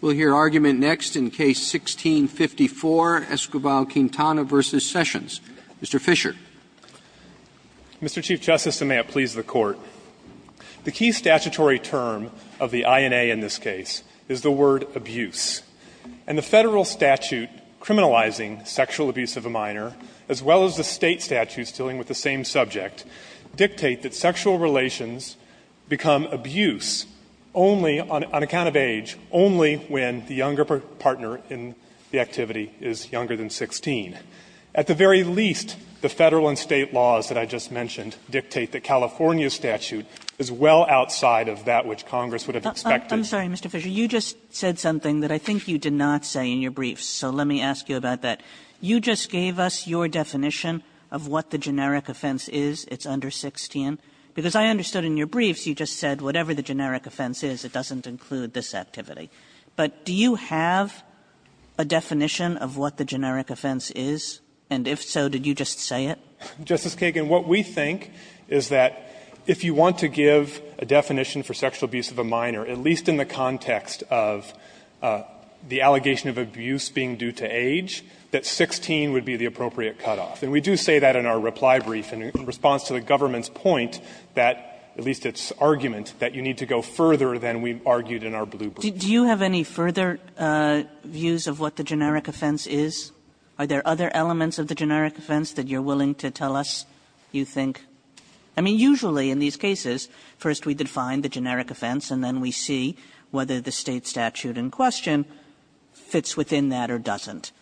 We'll hear argument next in Case 16-54, Esquivel-Quintana v. Sessions. Mr. Fischer. Mr. Chief Justice, and may it please the Court, the key statutory term of the INA in this case is the word abuse. And the federal statute criminalizing sexual abuse of a minor, as well as the state statutes dealing with the same subject, dictate that sexual relations become abuse only on account of age, only when the younger partner in the activity is younger than 16. At the very least, the federal and state laws that I just mentioned dictate that California's statute is well outside of that which Congress would have expected. Kagan. I'm sorry, Mr. Fischer. You just said something that I think you did not say in your briefs, so let me ask you about that. You just gave us your definition of what the generic offense is, it's under 16. Because I understood in your briefs, you just said whatever the generic offense is, it doesn't include this activity. But do you have a definition of what the generic offense is? And if so, did you just say it? Justice Kagan, what we think is that if you want to give a definition for sexual abuse of a minor, at least in the context of the allegation of abuse being due to age, that 16 would be the appropriate cutoff. And we do say that in our reply brief in response to the government's point that, at least its argument, that you need to go further than we've argued in our blue brief. Kagan. Do you have any further views of what the generic offense is? Are there other elements of the generic offense that you're willing to tell us you think? I mean, usually in these cases, first we define the generic offense and then we see whether the State statute in question fits within that or doesn't.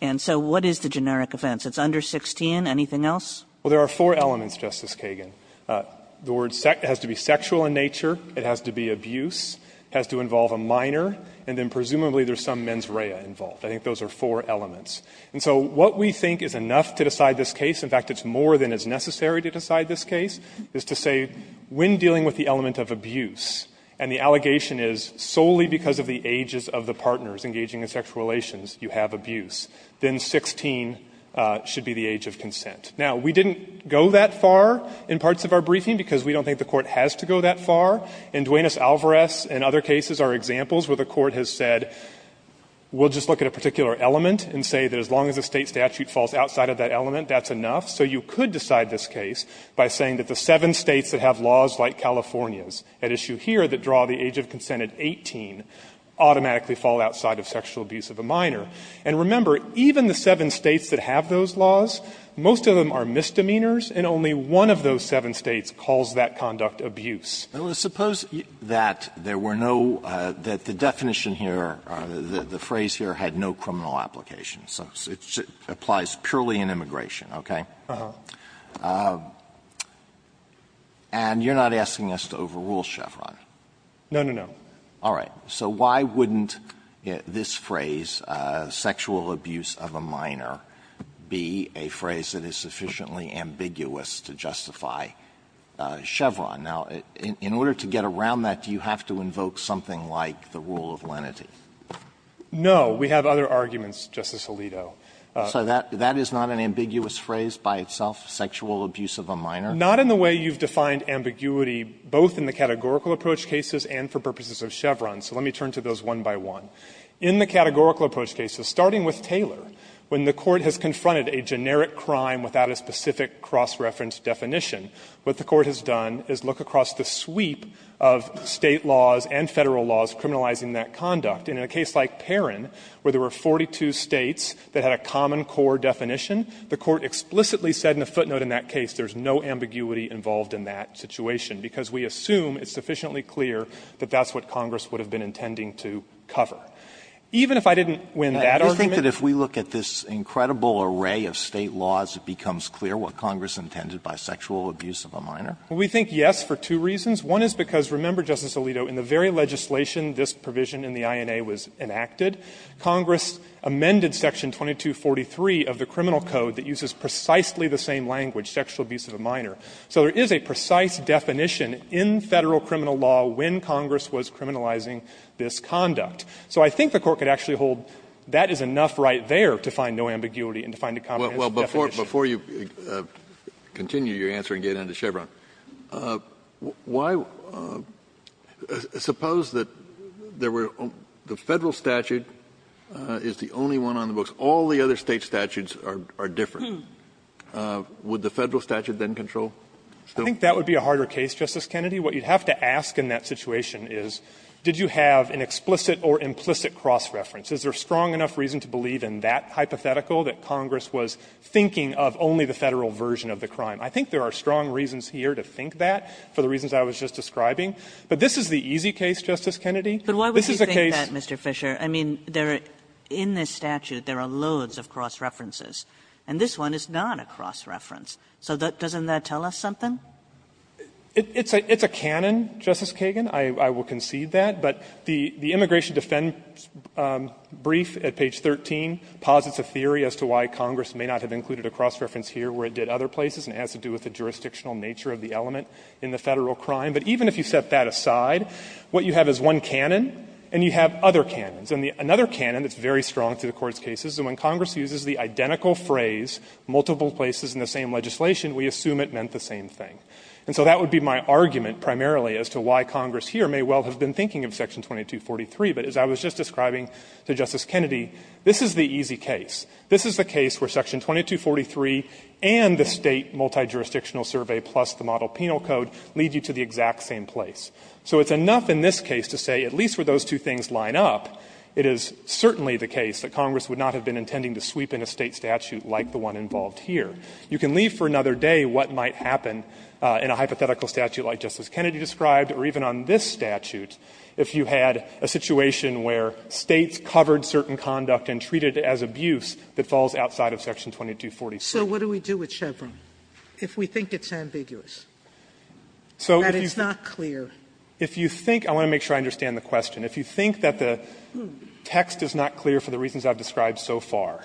And so what is the generic offense? It's under 16. Anything else? Well, there are four elements, Justice Kagan. The word has to be sexual in nature, it has to be abuse, it has to involve a minor, and then presumably there's some mens rea involved. I think those are four elements. And so what we think is enough to decide this case, in fact, it's more than is necessary to decide this case, is to say when dealing with the element of abuse and the allegation is solely because of the ages of the partners engaging in sexual relations, you have abuse, then 16 should be the age of consent. Now, we didn't go that far in parts of our briefing because we don't think the Court has to go that far. In Duenas-Alvarez and other cases, our examples where the Court has said, we'll just look at a particular element and say that as long as the State statute falls outside of that element, that's enough. So you could decide this case by saying that the seven States that have laws like California's at issue here that draw the age of consent at 18 automatically fall outside of sexual abuse of a minor. And remember, even the seven States that have those laws, most of them are misdemeanors, and only one of those seven States calls that conduct abuse. Alitoso, suppose that there were no – that the definition here, the phrase here had no criminal application. So it applies purely in immigration, okay? And you're not asking us to overrule Chevron? No, no, no. All right. So why wouldn't this phrase, sexual abuse of a minor, be a phrase that is sufficiently ambiguous to justify Chevron? Now, in order to get around that, do you have to invoke something like the rule of lenity? No. We have other arguments, Justice Alito. So that is not an ambiguous phrase by itself, sexual abuse of a minor? Not in the way you've defined ambiguity, both in the categorical approach cases and for purposes of Chevron. So let me turn to those one by one. In the categorical approach cases, starting with Taylor, when the Court has confronted a generic crime without a specific cross-reference definition, what the Court has done is look across the sweep of State laws and Federal laws criminalizing that conduct. And in a case like Perrin, where there were 42 States that had a common core definition, the Court explicitly said in a footnote in that case there is no ambiguity involved in that situation, because we assume it's sufficiently clear that that's what Congress would have been intending to cover. Even if I didn't win that argument ---- Alito, do you think that if we look at this incredible array of State laws, it becomes clear what Congress intended by sexual abuse of a minor? We think yes for two reasons. One is because, remember, Justice Alito, in the very legislation this provision in the INA was enacted, Congress amended section 2243 of the criminal code that uses precisely the same language, sexual abuse of a minor. So there is a precise definition in Federal criminal law when Congress was criminalizing this conduct. So I think the Court could actually hold that is enough right there to find no ambiguity and to find a comprehensive definition. Kennedy, before you continue your answer and get into Chevron, why ---- suppose that there were ---- the Federal statute is the only one on the books. All the other State statutes are different. Would the Federal statute then control? I think that would be a harder case, Justice Kennedy. What you'd have to ask in that situation is, did you have an explicit or implicit cross-reference? Is there strong enough reason to believe in that hypothetical, that Congress was thinking of only the Federal version of the crime? I think there are strong reasons here to think that, for the reasons I was just describing. But this is the easy case, Justice Kennedy. This is a case ---- Kagan, but why would you think that, Mr. Fisher? I mean, there are ---- in this statute, there are loads of cross-references. And this one is not a cross-reference. So doesn't that tell us something? It's a ---- it's a canon, Justice Kagan. I will concede that. But the immigration defense brief at page 13 posits a theory as to why Congress may not have included a cross-reference here where it did other places, and it has to do with the jurisdictional nature of the element in the Federal crime. But even if you set that aside, what you have is one canon, and you have other canons. And another canon that's very strong to the Court's cases is when Congress uses the identical phrase, multiple places in the same legislation, we assume it meant the same thing. And so that would be my argument primarily as to why Congress here may well have been thinking of section 2243. But as I was just describing to Justice Kennedy, this is the easy case. This is the case where section 2243 and the State multi-jurisdictional survey plus the model penal code lead you to the exact same place. So it's enough in this case to say, at least where those two things line up, it is certainly the case that Congress would not have been intending to sweep in a State statute like the one involved here. You can leave for another day what might happen in a hypothetical statute like Justice Kennedy described or even on this statute if you had a situation where States covered certain conduct and treated it as abuse that falls outside of section 2243. Sotomayor, So what do we do with Chevron if we think it's ambiguous, that it's not clear? Fisherman If you think – I want to make sure I understand the question. If you think that the text is not clear for the reasons I've described so far,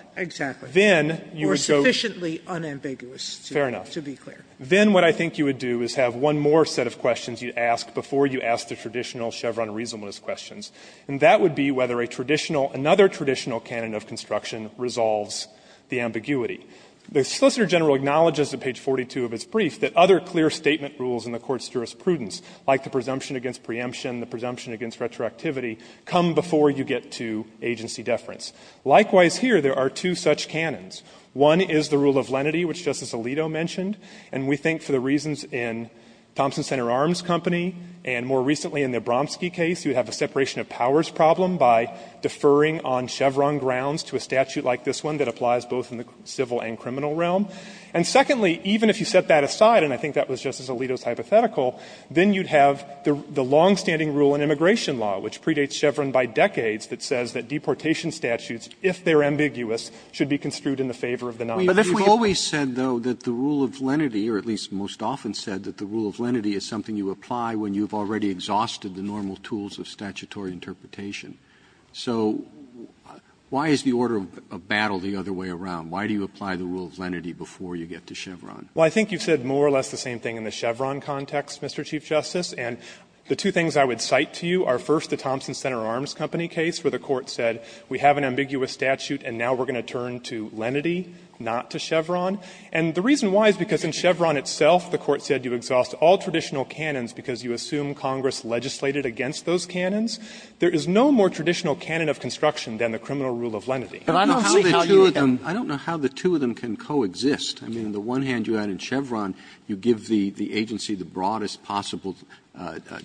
then you would go – Sotomayor Exactly. Or sufficiently unambiguous, to be clear. Fisherman Fair enough. Then what I think you would do is have one more set of questions you ask before you ask the traditional Chevron reasonableness questions. And that would be whether a traditional – another traditional canon of construction resolves the ambiguity. The Solicitor General acknowledges at page 42 of its brief that other clear statement rules in the Court's jurisprudence, like the presumption against preemption, the presumption against retroactivity, come before you get to agency deference. Likewise, here, there are two such canons. One is the rule of lenity, which Justice Alito mentioned. And we think for the reasons in Thompson Center Arms Company and more recently in the Abramski case, you would have a separation of powers problem by deferring on Chevron grounds to a statute like this one that applies both in the civil and criminal realm. And secondly, even if you set that aside, and I think that was Justice Alito's hypothetical, then you'd have the longstanding rule in immigration law, which predates Chevron by decades that says that deportation statutes, if they are ambiguous, should be construed in the favor of the non. Roberts. Roberts. You've always said, though, that the rule of lenity or at least most often said that the rule of lenity is something you apply when you've already exhausted the normal tools of statutory interpretation. So why is the order of battle the other way around? Why do you apply the rule of lenity before you get to Chevron? Fisherman. Well, I think you've said more or less the same thing in the Chevron context, Mr. Chief Justice. And the two things I would cite to you are, first, the Thompson Center Arms Company case, where the Court said we have an ambiguous statute and now we're going to turn to lenity, not to Chevron. And the reason why is because in Chevron itself, the Court said you exhaust all traditional canons because you assume Congress legislated against those canons. There is no more traditional canon of construction than the criminal rule of lenity. Roberts. I don't know how the two of them can coexist. I mean, on the one hand, you add in Chevron, you give the agency the broadest possible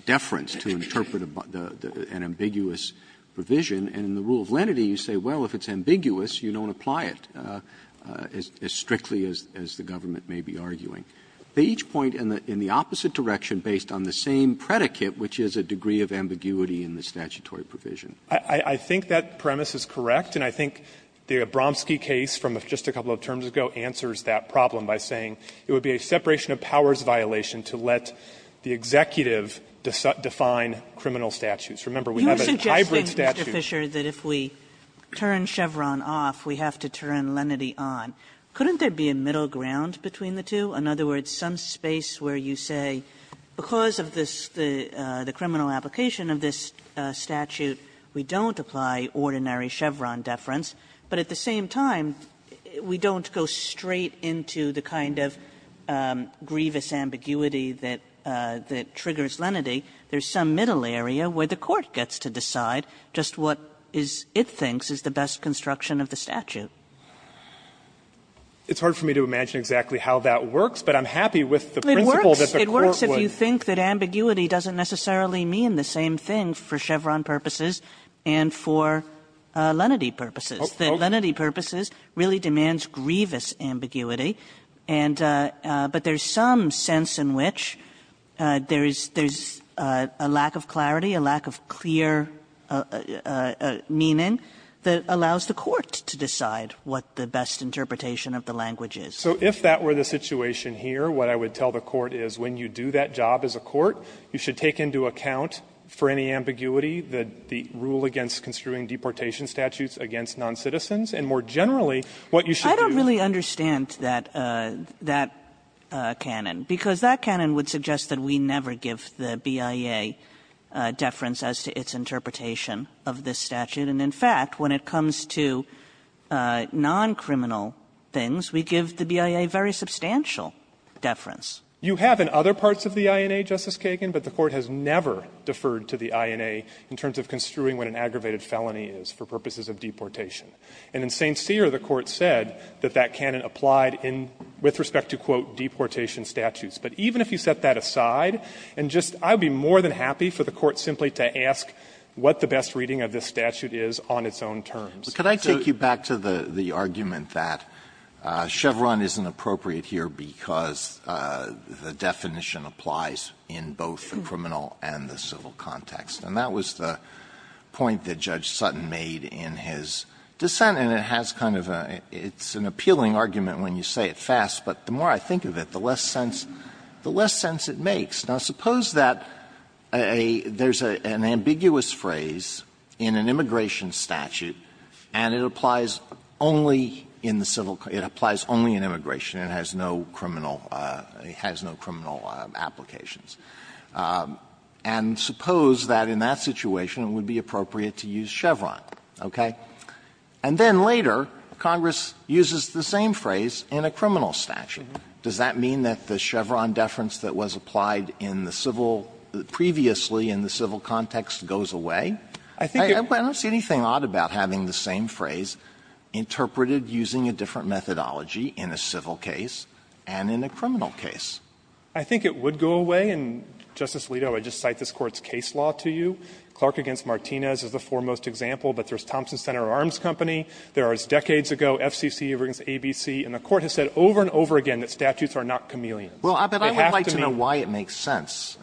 deference to interpret an ambiguous provision. And in the rule of lenity, you say, well, if it's ambiguous, you don't apply it as strictly as the government may be arguing. They each point in the opposite direction based on the same predicate, which is a degree of ambiguity in the statutory provision. Fisherman. Fisherman. I think that premise is correct and I think the Abramski case from just a couple of terms ago answers that problem by saying it would be a separation-of-powers violation to let the Executive define criminal statutes. Remember, we have a hybrid statute. Kagan is suggesting, Mr. Fisher, that if we turn Chevron off, we have to turn lenity on. Couldn't there be a middle ground between the two? In other words, some space where you say, because of this, the criminal application of this statute, we don't apply ordinary Chevron deference, but at the same time, we don't go straight into the kind of grievous ambiguity that triggers lenity. There's some middle area where the Court gets to decide just what it thinks is the best construction of the statute. Fisherman, It's hard for me to imagine exactly how that works, but I'm happy with the principle that the Court would. Kagan, It works if you think that ambiguity doesn't necessarily mean the same thing for Chevron purposes and for lenity purposes. The lenity purposes really demands grievous ambiguity, and but there's some sense in which there is a lack of clarity, a lack of clear meaning that allows the Court to decide what the best interpretation of the language is. Fisherman, So if that were the situation here, what I would tell the Court is, when you do that job as a court, you should take into account, for any ambiguity, the rule against construing deportation statutes against noncitizens, and more generally, what you should do is. Kagan, I don't really understand that, that canon, because that canon would suggest that we never give the BIA deference as to its interpretation of this statute. And in fact, when it comes to noncriminal things, we give the BIA very substantial deference. Fisherman, You have in other parts of the INA, Justice Kagan, but the Court has never deferred to the INA in terms of construing what an aggravated felony is for purposes of deportation. And in St. Cyr, the Court said that that canon applied in, with respect to, quote, deportation statutes. But even if you set that aside, and just, I would be more than happy for the Court to simply to ask what the best reading of this statute is on its own terms. Alito, could I take you back to the argument that Chevron isn't appropriate here because the definition applies in both the criminal and the civil context. And that was the point that Judge Sutton made in his dissent, and it has kind of a, it's an appealing argument when you say it fast, but the more I think of it, the less sense, the less sense it makes. Now, suppose that a, there's an ambiguous phrase in an immigration statute and it applies only in the civil, it applies only in immigration, it has no criminal, it has no criminal applications. And suppose that in that situation it would be appropriate to use Chevron, okay? And then later, Congress uses the same phrase in a criminal statute. Does that mean that the Chevron deference that was applied in the civil, previously in the civil context, goes away? I don't see anything odd about having the same phrase interpreted using a different methodology in a civil case and in a criminal case. Fisherman, I think it would go away, and, Justice Alito, I would just cite this Court's case law to you. Clark v. Martinez is the foremost example, but there's Thompson Center Arms Company, there are, as decades ago, FCC, ABC, and the Court has said over and over again that statutes are not chameleons. They have to be. Alito, but I would like to know why it makes sense,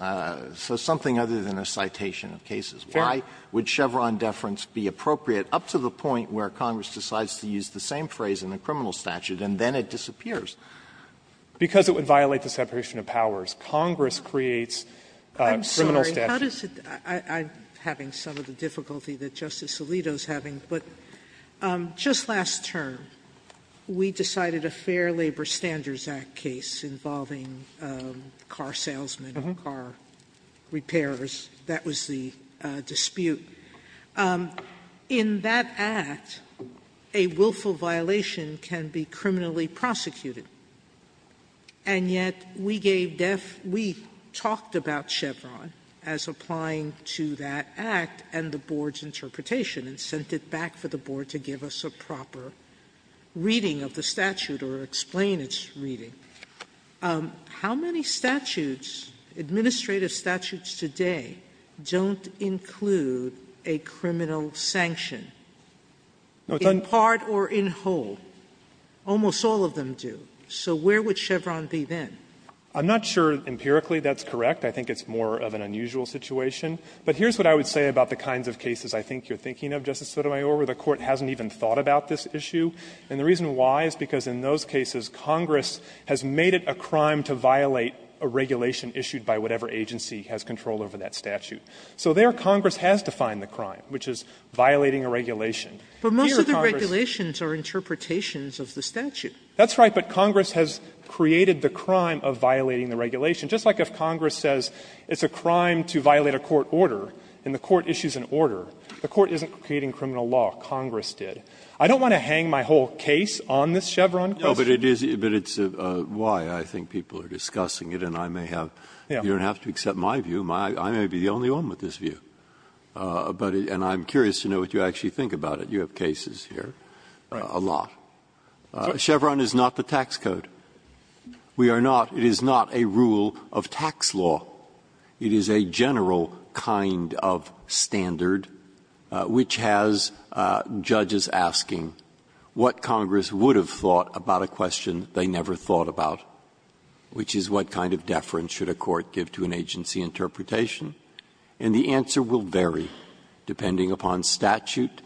so something other than a citation of cases. Why would Chevron deference be appropriate up to the point where Congress decides to use the same phrase in a criminal statute and then it disappears? Because it would violate the separation of powers. Congress creates criminal statutes. Sotomayor, how does it – I'm having some of the difficulty that Justice Alito is having, but just last term we decided a Fair Labor Standards Act case involving car salesmen or car repairers. That was the dispute. In that act, a willful violation can be criminally prosecuted, and yet we gave def – we talked about Chevron as applying to that act and the Board's interpretation and sent it back for the Board to give us a proper reading of the statute or explain its reading. How many statutes, administrative statutes today, don't include a criminal sanction? In part or in whole? Almost all of them do. So where would Chevron be then? I'm not sure empirically that's correct. I think it's more of an unusual situation. But here's what I would say about the kinds of cases I think you're thinking of, Justice Sotomayor, where the Court hasn't even thought about this issue. And the reason why is because in those cases Congress has made it a crime to violate a regulation issued by whatever agency has control over that statute. So there Congress has defined the crime, which is violating a regulation. Here Congress – But most of the regulations are interpretations of the statute. That's right. But Congress has created the crime of violating the regulation. Just like if Congress says it's a crime to violate a court order and the court issues an order, the court isn't creating criminal law, Congress did. I don't want to hang my whole case on this Chevron question. No, but it is – but it's why I think people are discussing it, and I may have – you don't have to accept my view. I may be the only one with this view. But – and I'm curious to know what you actually think about it. You have cases here a lot. Chevron is not the tax code. We are not – it is not a rule of tax law. It is a general kind of standard which has judges asking what Congress would have thought about a question they never thought about, which is what kind of deference should a court give to an agency interpretation. And the answer will vary depending upon statute.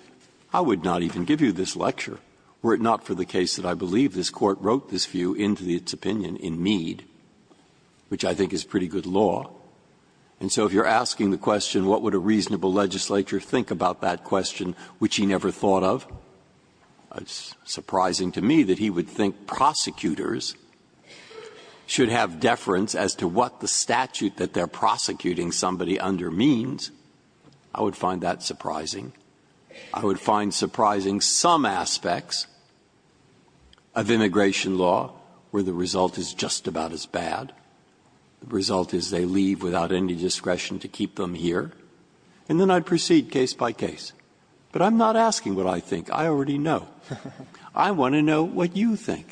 I would not even give you this lecture. Were it not for the case that I believe this Court wrote this view into its opinion in Mead, which I think is pretty good law. And so if you're asking the question, what would a reasonable legislature think about that question which he never thought of, it's surprising to me that he would think prosecutors should have deference as to what the statute that they're prosecuting somebody under means, I would find that surprising. I would find surprising some aspects of immigration law where the result is just about as bad. The result is they leave without any discretion to keep them here, and then I'd proceed case by case. But I'm not asking what I think. I already know. I want to know what you think.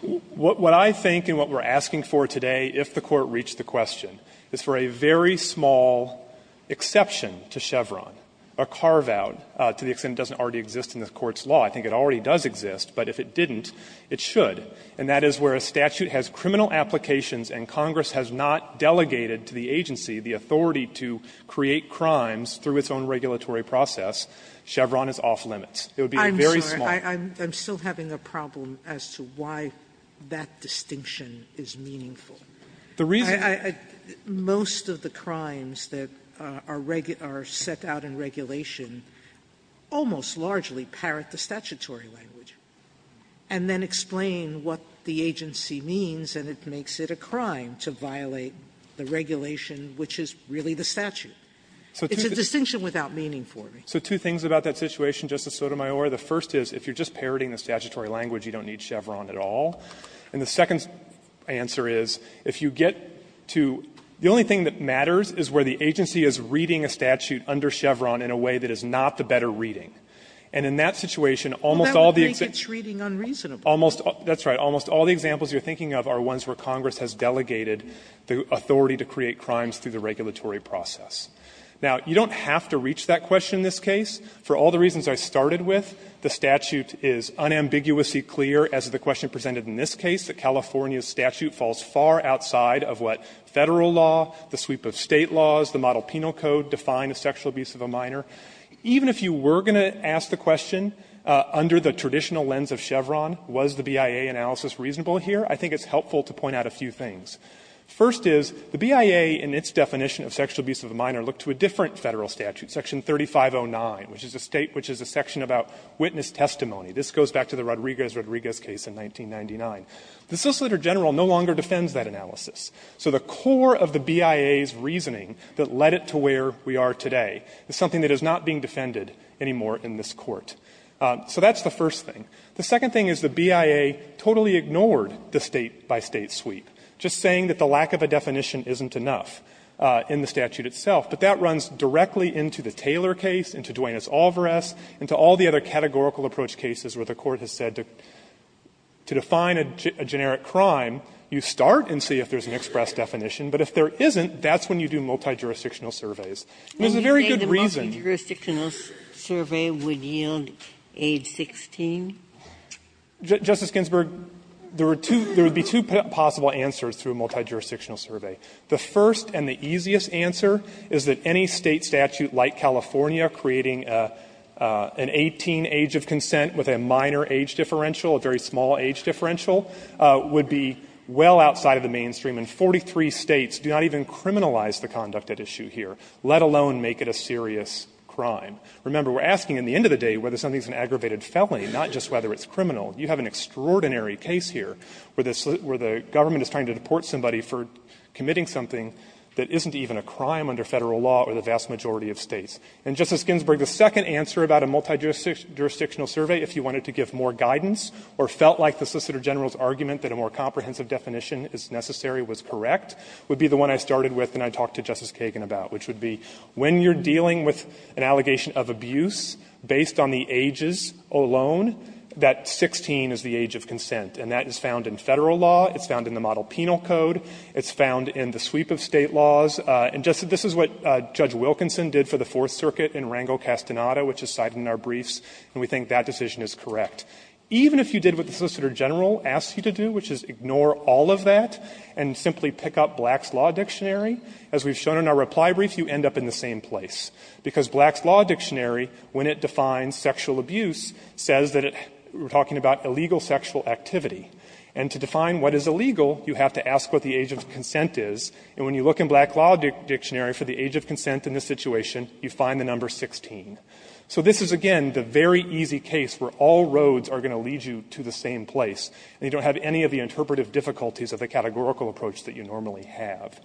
Fisherman. What I think and what we're asking for today, if the Court reached the question, is for a very small exception to Chevron, a carve-out, to the extent it doesn't already exist in the Court's law. I think it already does exist, but if it didn't, it should. And that is where a statute has criminal applications and Congress has not delegated to the agency the authority to create crimes through its own regulatory process, Chevron is off limits. It would be a very small. Sotomayor I'm sorry, I'm still having a problem as to why that distinction is meaningful. Fisherman. The reason I most of the crimes that are set out in regulation almost largely parrot the statutory language and then explain what the agency means and it makes it a crime to violate the regulation, which is really the statute. It's a distinction without meaning for me. Fisherman. So two things about that situation, Justice Sotomayor. The first is, if you're just parroting the statutory language, you don't need Chevron at all. And the second answer is, if you get to the only thing that matters is where the agency is reading a statute under Chevron in a way that is not the better reading. And in that situation, almost all the examples. Sotomayor Well, that would make its reading unreasonable. Fisherman. That's right. Almost all the examples you're thinking of are ones where Congress has delegated the authority to create crimes through the regulatory process. Now, you don't have to reach that question in this case. For all the reasons I started with, the statute is unambiguously clear as the question presented in this case, that California's statute falls far outside of what Federal law, the sweep of State laws, the Model Penal Code define a sexual abuse of a minor. Even if you were going to ask the question under the traditional lens of Chevron, was the BIA analysis reasonable here, I think it's helpful to point out a few things. First is, the BIA in its definition of sexual abuse of a minor looked to a different Federal statute, Section 3509, which is a state which is a section about witness testimony. This goes back to the Rodriguez-Rodriguez case in 1999. The Solicitor General no longer defends that analysis. So the core of the BIA's reasoning that led it to where we are today is something that is not being defended anymore in this Court. So that's the first thing. The second thing is the BIA totally ignored the State-by-State sweep, just saying that the lack of a definition isn't enough in the statute itself. But that runs directly into the Taylor case, into Duenas-Alvarez, into all the other cases where the Court has said to define a generic crime, you start and see if there's an express definition. But if there isn't, that's when you do multijurisdictional surveys. And there's a very good reason. Ginsburg. And you say the multijurisdictional survey would yield age 16? Justice Ginsburg, there are two – there would be two possible answers to a multijurisdictional survey. The first and the easiest answer is that any State statute like California creating an 18 age of consent with a minor age differential, a very small age differential, would be well outside of the mainstream. And 43 States do not even criminalize the conduct at issue here, let alone make it a serious crime. Remember, we're asking at the end of the day whether something is an aggravated felony, not just whether it's criminal. You have an extraordinary case here where the Government is trying to deport somebody for committing something that isn't even a crime under Federal law or the vast majority of States. And, Justice Ginsburg, the second answer about a multijurisdictional survey, if you wanted to give more guidance or felt like the Solicitor General's argument that a more comprehensive definition is necessary was correct, would be the one I started with and I talked to Justice Kagan about, which would be when you're dealing with an allegation of abuse based on the ages alone, that 16 is the age of consent. And that is found in Federal law. It's found in the Model Penal Code. It's found in the sweep of State laws. And, Justice, this is what Judge Wilkinson did for the Fourth Circuit in Rangel-Castaneda, which is cited in our briefs, and we think that decision is correct. Even if you did what the Solicitor General asked you to do, which is ignore all of that and simply pick up Black's Law Dictionary, as we've shown in our reply brief, you end up in the same place. Because Black's Law Dictionary, when it defines sexual abuse, says that it we're talking about illegal sexual activity. And to define what is illegal, you have to ask what the age of consent is. And when you look in Black's Law Dictionary for the age of consent in this situation, you find the number 16. So this is, again, the very easy case where all roads are going to lead you to the same place, and you don't have any of the interpretive difficulties of the categorical approach that you normally have.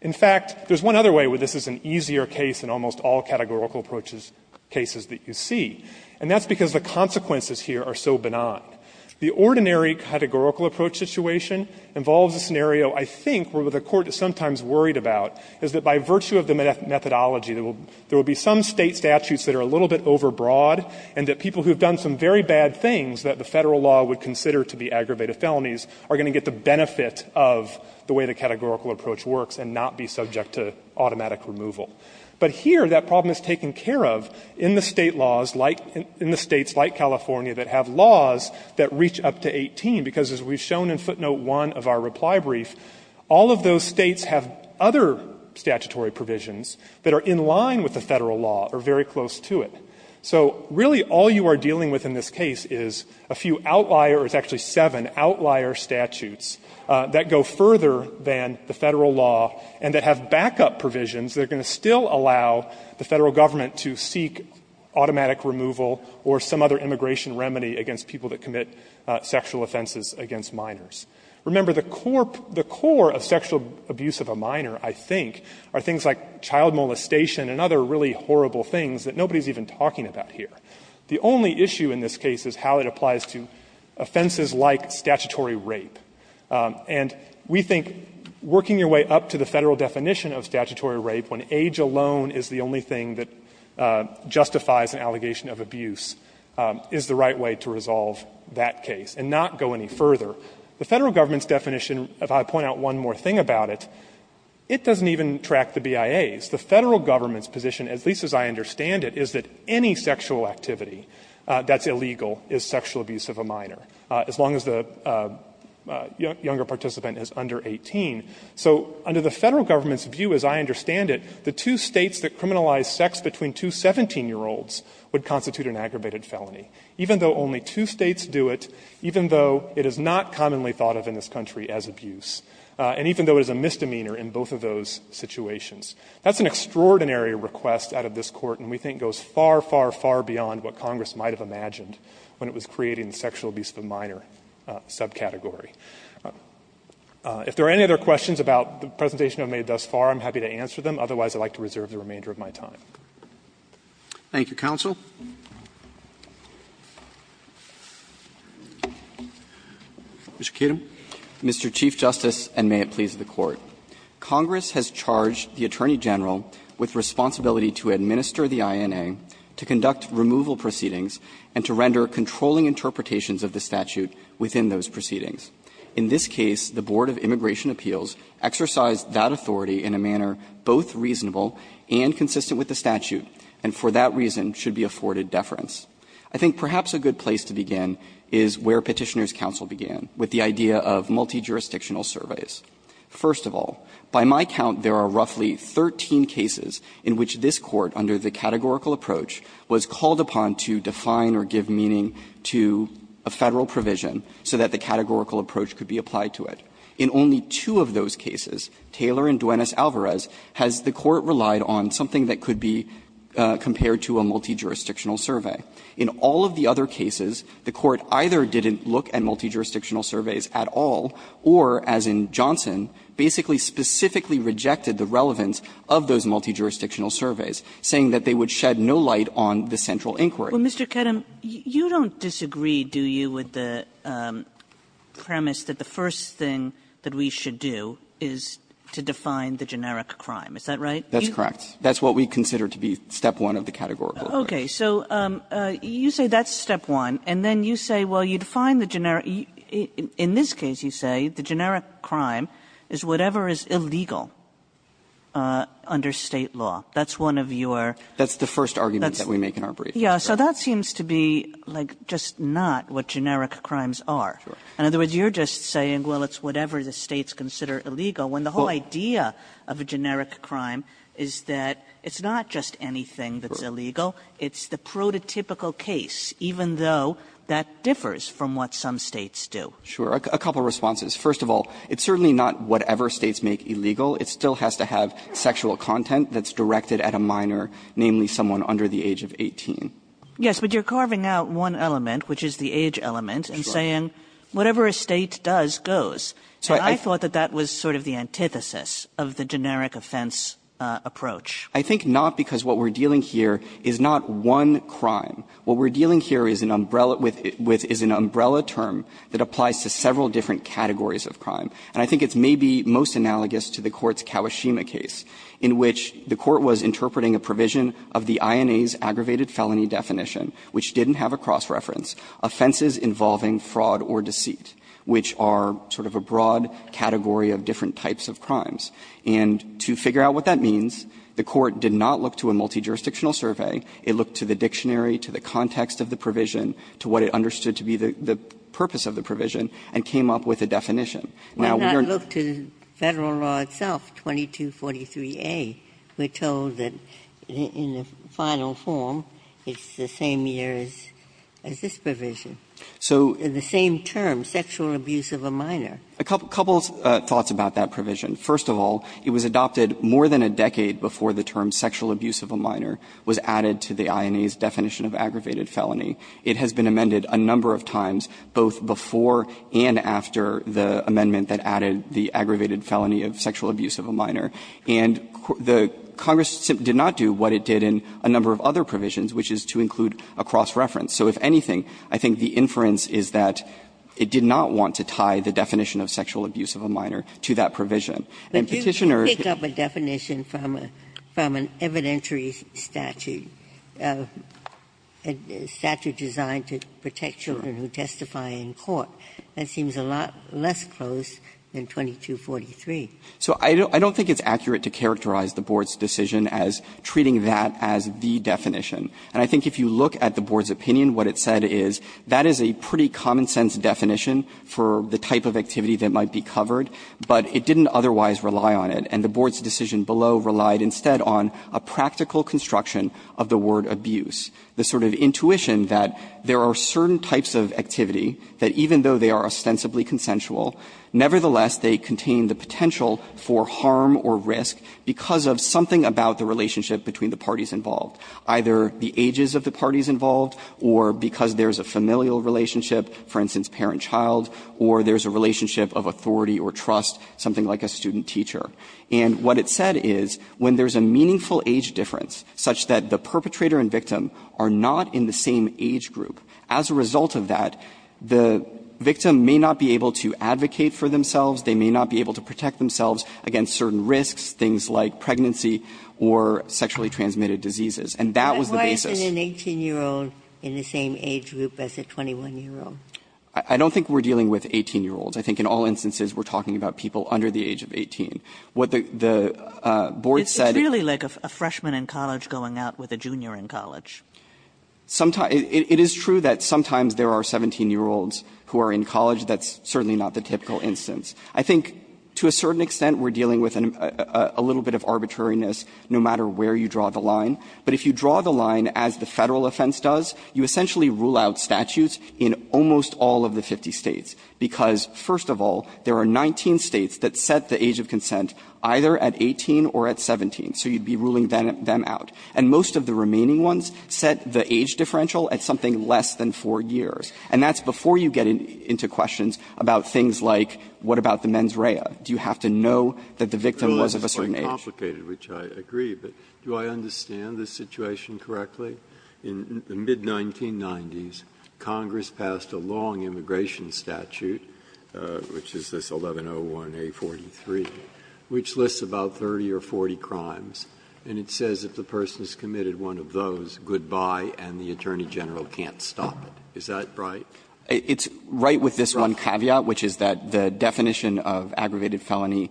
In fact, there's one other way where this is an easier case than almost all categorical approaches cases that you see, and that's because the consequences here are so benign. The ordinary categorical approach situation involves a scenario, I think, where the Court is sometimes worried about, is that by virtue of the methodology, there will be some State statutes that are a little bit overbroad, and that people who have done some very bad things that the Federal law would consider to be aggravated felonies are going to get the benefit of the way the categorical approach works and not be subject to automatic removal. But here, that problem is taken care of in the State laws, in the States like California that have laws that reach up to 18, because as we've shown in footnote 1 of our reply brief, all of those States have other statutory provisions that are in line with the Federal law or very close to it. So really, all you are dealing with in this case is a few outlier or it's actually seven outlier statutes that go further than the Federal law and that have backup provisions that are going to still allow the Federal government to seek automatic removal or some other immigration remedy against people that commit sexual offenses against minors. Remember, the core of sexual abuse of a minor, I think, are things like child molestation and other really horrible things that nobody is even talking about here. The only issue in this case is how it applies to offenses like statutory rape. And we think working your way up to the Federal definition of statutory rape, when age alone is the only thing that justifies an allegation of abuse, is the right way to resolve that case and not go any further. The Federal government's definition, if I point out one more thing about it, it doesn't even track the BIAs. The Federal government's position, at least as I understand it, is that any sexual activity that's illegal is sexual abuse of a minor, as long as the younger participant is under 18. So under the Federal government's view, as I understand it, the two States that criminalize sex between two 17-year-olds would constitute an aggravated felony. Even though only two States do it, even though it is not commonly thought of in this country as abuse, and even though it is a misdemeanor in both of those situations. That's an extraordinary request out of this Court, and we think goes far, far, far beyond what Congress might have imagined when it was creating the sexual abuse of a minor subcategory. If there are any other questions about the presentation I've made thus far, I'm happy to answer them. Otherwise, I'd like to reserve the remainder of my time. Roberts. Thank you, counsel. Mr. Kedem. Mr. Chief Justice, and may it please the Court. Congress has charged the Attorney General with responsibility to administer the INA, to conduct removal proceedings, and to render controlling interpretations of the statute within those proceedings. In this case, the Board of Immigration Appeals exercised that authority in a manner both reasonable and consistent with the statute, and for that reason should be afforded deference. I think perhaps a good place to begin is where Petitioner's counsel began, with the idea of multi-jurisdictional surveys. First of all, by my count, there are roughly 13 cases in which this Court, under the categorical approach, was called upon to define or give meaning to a Federal provision so that the categorical approach could be applied to it. In only two of those cases, Taylor and Duenas-Alvarez, has the Court relied on something that could be compared to a multi-jurisdictional survey. In all of the other cases, the Court either didn't look at multi-jurisdictional surveys at all, or, as in Johnson, basically specifically rejected the relevance of those multi-jurisdictional surveys, saying that they would shed no light on the central inquiry. Kagan, you don't disagree, do you, with the premise that the first thing that we should do is to define the generic crime, is that right? That's correct. That's what we consider to be step one of the categorical approach. Okay. So you say that's step one, and then you say, well, you define the generic – in this case, you say the generic crime is whatever is illegal under State law. That's one of your – That's the first argument that we make in our brief. Yeah. So that seems to be, like, just not what generic crimes are. Sure. In other words, you're just saying, well, it's whatever the States consider illegal, when the whole idea of a generic crime is that it's not just anything that's illegal. It's the prototypical case, even though that differs from what some States do. Sure. A couple of responses. First of all, it's certainly not whatever States make illegal. It still has to have sexual content that's directed at a minor, namely someone under the age of 18. Yes, but you're carving out one element, which is the age element, and saying whatever a State does goes. So I thought that that was sort of the antithesis of the generic offense approach. I think not, because what we're dealing here is not one crime. What we're dealing here is an umbrella – is an umbrella term that applies to several different categories of crime. And I think it's maybe most analogous to the Court's Kawashima case, in which the definition, which didn't have a cross-reference, offenses involving fraud or deceit, which are sort of a broad category of different types of crimes. And to figure out what that means, the Court did not look to a multijurisdictional survey. It looked to the dictionary, to the context of the provision, to what it understood to be the purpose of the provision, and came up with a definition. Now, we are not going to look to Federal law itself, 2243a. We're told that in the final form, it's the same year as this provision. The same term, sexual abuse of a minor. A couple of thoughts about that provision. First of all, it was adopted more than a decade before the term sexual abuse of a minor was added to the INA's definition of aggravated felony. It has been amended a number of times, both before and after the amendment that added the aggravated felony of sexual abuse of a minor. And the Congress did not do what it did in a number of other provisions, which is to include a cross-reference. So if anything, I think the inference is that it did not want to tie the definition of sexual abuse of a minor to that provision. And Petitioner ---- Ginsburg-Young But you can pick up a definition from an evidentiary statute, a statute designed to protect children who testify in court. That seems a lot less close than 2243. So I don't think it's accurate to characterize the Board's decision as treating that as the definition. And I think if you look at the Board's opinion, what it said is that is a pretty common-sense definition for the type of activity that might be covered, but it didn't otherwise rely on it. And the Board's decision below relied instead on a practical construction of the word abuse, the sort of intuition that there are certain types of activity that even though they are ostensibly consensual, nevertheless, they contain the potential for harm or risk because of something about the relationship between the parties involved, either the ages of the parties involved or because there's a familial relationship, for instance, parent-child, or there's a relationship of authority or trust, something like a student-teacher. And what it said is when there's a meaningful age difference such that the perpetrator and victim are not in the same age group, as a result of that, the victim may not be able to protect themselves against certain risks, things like pregnancy or sexually transmitted diseases. And that was the basis. Ginsburg. But why isn't an 18-year-old in the same age group as a 21-year-old? I don't think we're dealing with 18-year-olds. I think in all instances, we're talking about people under the age of 18. What the Board said was that the age of 18 is not the typical age for an 18-year-old. It's really like a freshman in college going out with a junior in college. It is true that sometimes there are 17-year-olds who are in college. That's certainly not the typical instance. I think to a certain extent, we're dealing with a little bit of arbitrariness no matter where you draw the line. But if you draw the line as the Federal offense does, you essentially rule out statutes in almost all of the 50 States, because, first of all, there are 19 States that set the age of consent either at 18 or at 17. So you'd be ruling them out. And most of the remaining ones set the age differential at something less than 4 years. And that's before you get into questions about things like what about the mens rea. Do you have to know that the victim was of a certain age? Breyer, which I agree, but do I understand the situation correctly? In the mid-1990s, Congress passed a long immigration statute, which is this 1101A43, which lists about 30 or 40 crimes, and it says if the person has committed one of those, goodbye and the attorney general can't stop it. Is that right? It's right with this one caveat, which is that the definition of aggravated felony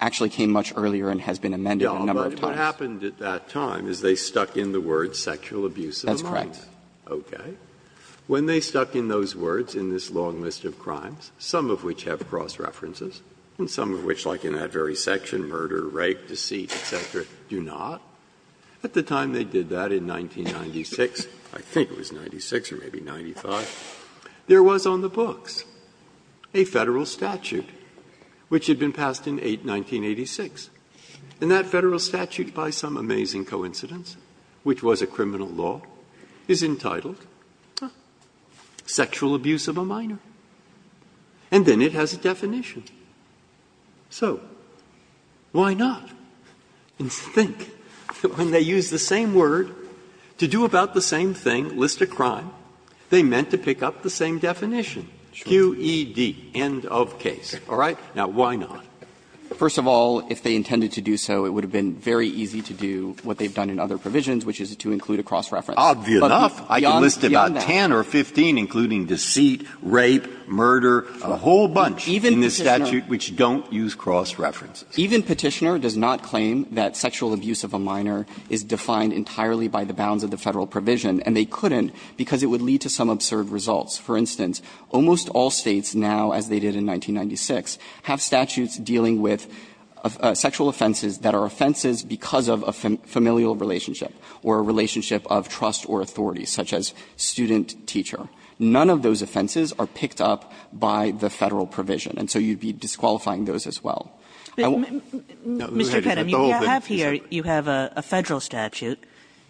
actually came much earlier and has been amended a number of times. Breyer, what happened at that time is they stuck in the words sexual abuse of a minor. That's correct. Okay. When they stuck in those words in this long list of crimes, some of which have cross references, and some of which, like in that very section, murder, rape, deceit, et cetera, do not, at the time they did that in 1996, I think it was 96 or maybe 95, there was on the books a Federal statute, which had been passed in 1986. And that Federal statute, by some amazing coincidence, which was a criminal law, is entitled Sexual Abuse of a Minor, and then it has a definition. So why not think that when they use the same word to do about the same thing, list a crime, they meant to pick up the same definition, QED, end of case, all right? Now, why not? First of all, if they intended to do so, it would have been very easy to do what they've done in other provisions, which is to include a cross reference. But beyond that. Obvious enough, I can list about 10 or 15, including deceit, rape, murder, a whole bunch in this statute which don't use cross references. Even Petitioner does not claim that sexual abuse of a minor is defined entirely by the bounds of the Federal provision, and they couldn't because it would lead to some absurd results. For instance, almost all States now, as they did in 1996, have statutes dealing with sexual offenses that are offenses because of a familial relationship or a relationship of trust or authority, such as student-teacher. None of those offenses are picked up by the Federal provision, and so you'd be disqualifying those as well. Kagan. Mr. Kedem, you have here, you have a Federal statute.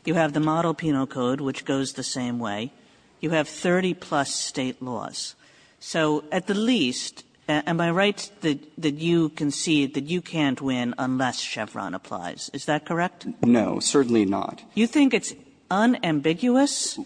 You have the model penal code which goes the same way. You have 30 plus State laws. So at the least, am I right that you concede that you can't win unless Chevron applies? Is that correct? Kedem. No, certainly not. You think it's unambiguous,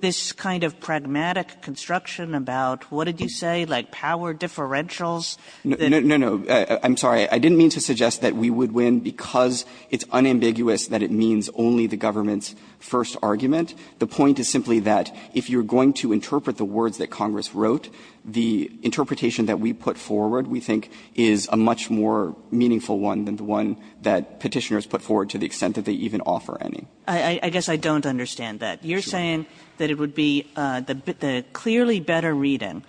this kind of pragmatic construction about, what did you say, like power differentials? No, no, I'm sorry. I didn't mean to suggest that we would win because it's unambiguous that it means only the government's first argument. The point is simply that if you're going to interpret the words that Congress wrote, the interpretation that we put forward, we think, is a much more meaningful one than the one that Petitioners put forward to the extent that they even offer any. I guess I don't understand that. You're saying that it would be the clearly better reading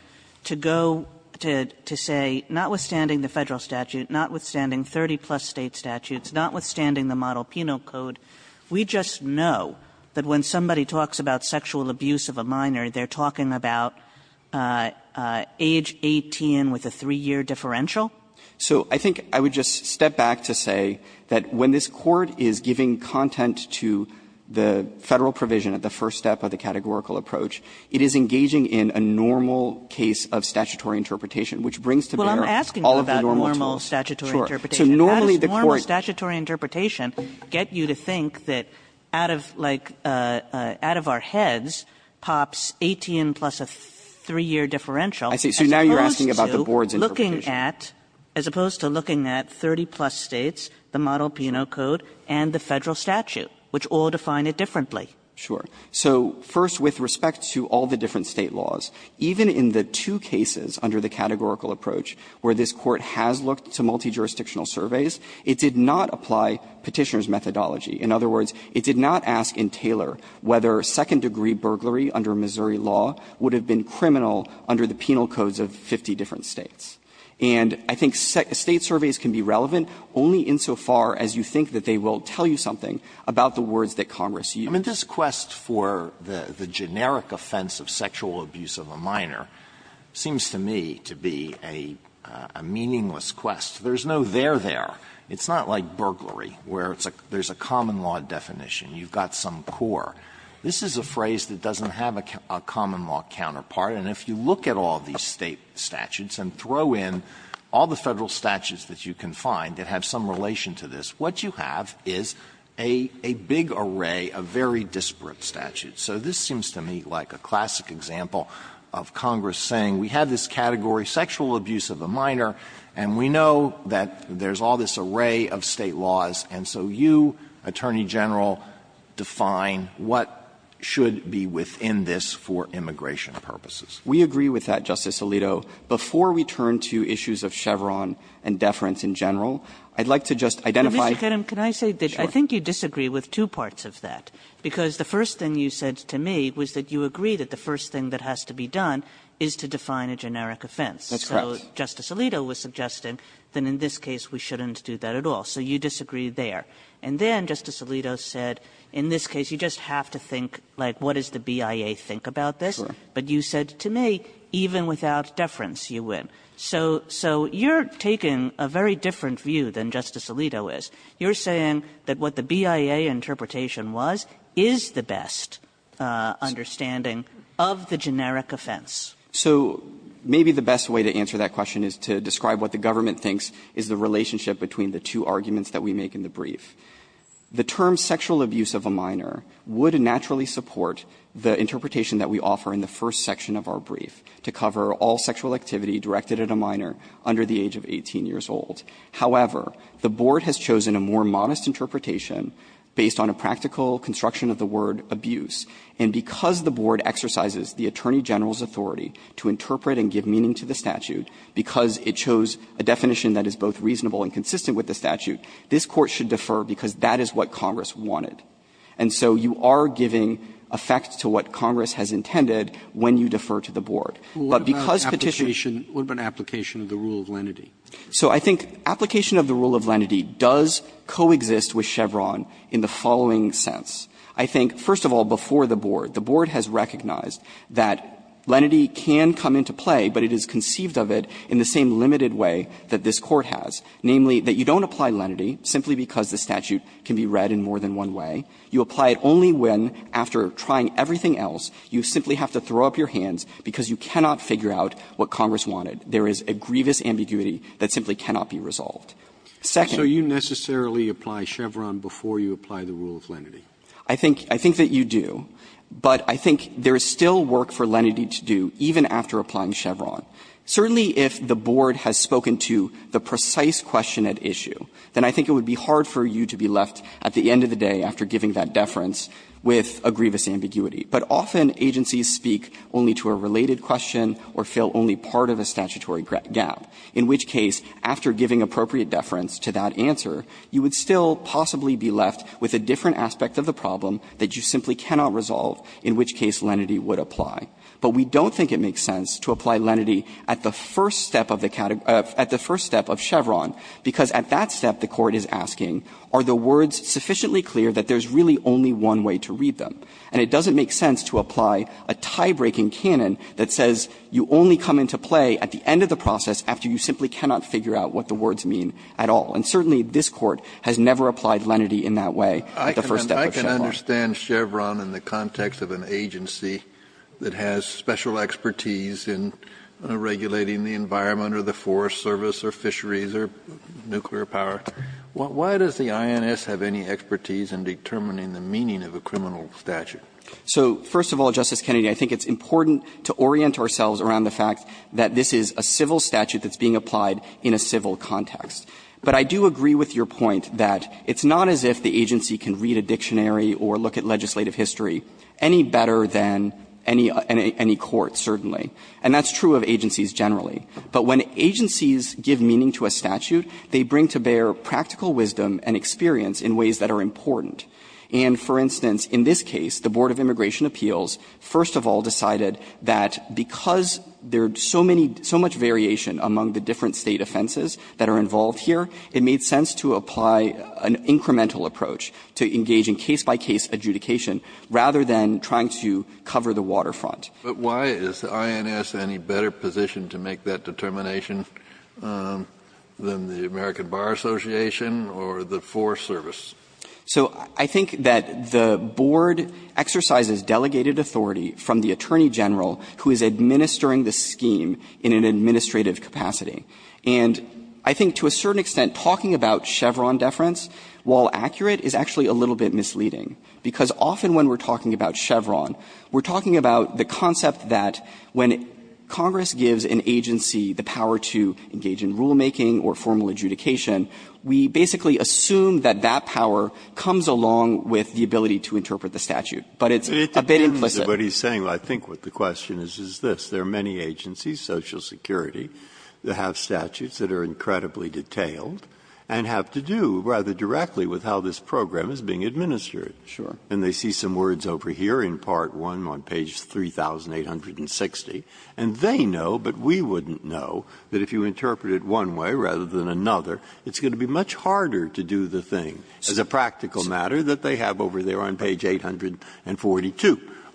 to go to say, notwithstanding the Federal statute, notwithstanding 30-plus State statutes, notwithstanding the model penal code, we just know that when somebody talks about sexual abuse of a minor, they're talking about age 18 with a 3-year differential? So I think I would just step back to say that when this Court is giving content to the Federal provision at the first step of the categorical approach, it is engaging in a normal case of statutory interpretation, which brings to bear all of the normal tools. Kagan. So normally the Court So normal statutory interpretation get you to think that out of, like, out of our heads pops 18 plus a 3-year differential as opposed to looking at, as opposed to looking at 30-plus States, the model penal code, and the Federal statute. Which all define it differently. Sure. So first, with respect to all the different State laws, even in the two cases under the categorical approach where this Court has looked to multijurisdictional surveys, it did not apply Petitioner's methodology. In other words, it did not ask in Taylor whether second-degree burglary under Missouri law would have been criminal under the penal codes of 50 different States. And I think State surveys can be relevant only insofar as you think that they will tell you something about the words that Congress used. Alito I mean, this quest for the generic offense of sexual abuse of a minor seems to me to be a meaningless quest. There is no there there. It's not like burglary, where there is a common law definition, you've got some core. This is a phrase that doesn't have a common law counterpart, and if you look at all these State statutes and throw in all the Federal statutes that you can find that have some relation to this, what you have is a big array of very disparate statutes. So this seems to me like a classic example of Congress saying we have this category sexual abuse of a minor, and we know that there's all this array of State laws, and so you, Attorney General, define what should be within this for immigration purposes. Roberts We agree with that, Justice Alito. Before we turn to issues of Chevron and deference in general, I'd like to just identify Kagan Mr. Kedem, can I say that I think you disagree with two parts of that, because the first thing you said to me was that you agree that the first thing that has to be done is to define a generic offense. Alito That's correct. Kagan So Justice Alito was suggesting that in this case we shouldn't do that at all, so you disagree there. And then Justice Alito said in this case you just have to think, like, what does the BIA think about this? Alito Sure. Kagan But you said to me, even without deference, you win. So you're taking a very different view than Justice Alito is. You're saying that what the BIA interpretation was is the best understanding of the generic offense. Alito So maybe the best way to answer that question is to describe what the government thinks is the relationship between the two arguments that we make in the brief. The term sexual abuse of a minor would naturally support the interpretation that we offer in the first section of our brief to cover all sexual activity directed at a minor under the age of 18 years old. However, the Board has chosen a more modest interpretation based on a practical construction of the word abuse. And because the Board exercises the Attorney General's authority to interpret and give meaning to the statute, because it chose a definition that is both reasonable and consistent with the statute, this Court should defer because that is what Congress wanted. And so you are giving effect to what Congress has intended when you defer to the Board. But because Petitioner What about application of the rule of lenity? So I think application of the rule of lenity does coexist with Chevron in the following sense. I think, first of all, before the Board, the Board has recognized that lenity can come into play, but it is conceived of it in the same limited way that this Court has, namely, that you don't apply lenity simply because the statute can be read in more than one way. You apply it only when, after trying everything else, you simply have to throw up your hands because you cannot figure out what Congress wanted. There is a grievous ambiguity that simply cannot be resolved. Second So you necessarily apply Chevron before you apply the rule of lenity? I think that you do, but I think there is still work for lenity to do even after applying Chevron. Certainly, if the Board has spoken to the precise question at issue, then I think it would be hard for you to be left, at the end of the day, after giving that deference, with a grievous ambiguity. But often, agencies speak only to a related question or fill only part of a statutory gap, in which case, after giving appropriate deference to that answer, you would still possibly be left with a different aspect of the problem that you simply cannot resolve, in which case lenity would apply. But we don't think it makes sense to apply lenity at the first step of the category at the first step of Chevron, because at that step, the Court is asking, are the words sufficiently clear that there is really only one way to read them? And it doesn't make sense to apply a tie-breaking canon that says you only come into play at the end of the process after you simply cannot figure out what the words mean at all. And certainly, this Court has never applied lenity in that way at the first step of Chevron. Kennedy, I can understand Chevron in the context of an agency that has special expertise in regulating the environment or the Forest Service or fisheries or nuclear power. Why does the INS have any expertise in determining the meaning of a criminal statute? So, first of all, Justice Kennedy, I think it's important to orient ourselves around the fact that this is a civil statute that's being applied in a civil context. But I do agree with your point that it's not as if the agency can read a dictionary or look at legislative history any better than any court, certainly. And that's true of agencies generally. But when agencies give meaning to a statute, they bring to bear practical wisdom and experience in ways that are important. And, for instance, in this case, the Board of Immigration Appeals, first of all, decided that because there's so many so much variation among the different State offenses that are involved here, it made sense to apply an incremental approach to engage in case-by-case adjudication, rather than trying to cover the waterfront. Kennedy, but why is the INS any better positioned to make that determination than the American Bar Association or the Forest Service? So I think that the Board exercises delegated authority from the Attorney General who is administering the scheme in an administrative capacity. And I think to a certain extent, talking about Chevron deference, while accurate is actually a little bit misleading, because often when we're talking about Chevron, we're talking about the concept that when Congress gives an agency the power to engage in rulemaking or formal adjudication, we basically assume that that power comes along with the ability to interpret the statute, but it's a bit implicit. Breyer, what he's saying, I think what the question is, is this. There are many agencies, Social Security, that have statutes that are incredibly detailed and have to do rather directly with how this program is being administered. And they see some words over here in Part 1 on page 3,860, and they know, but we wouldn't know, that if you interpret it one way rather than another, it's going to be much harder to do the thing as a practical matter that they have over there on page 842.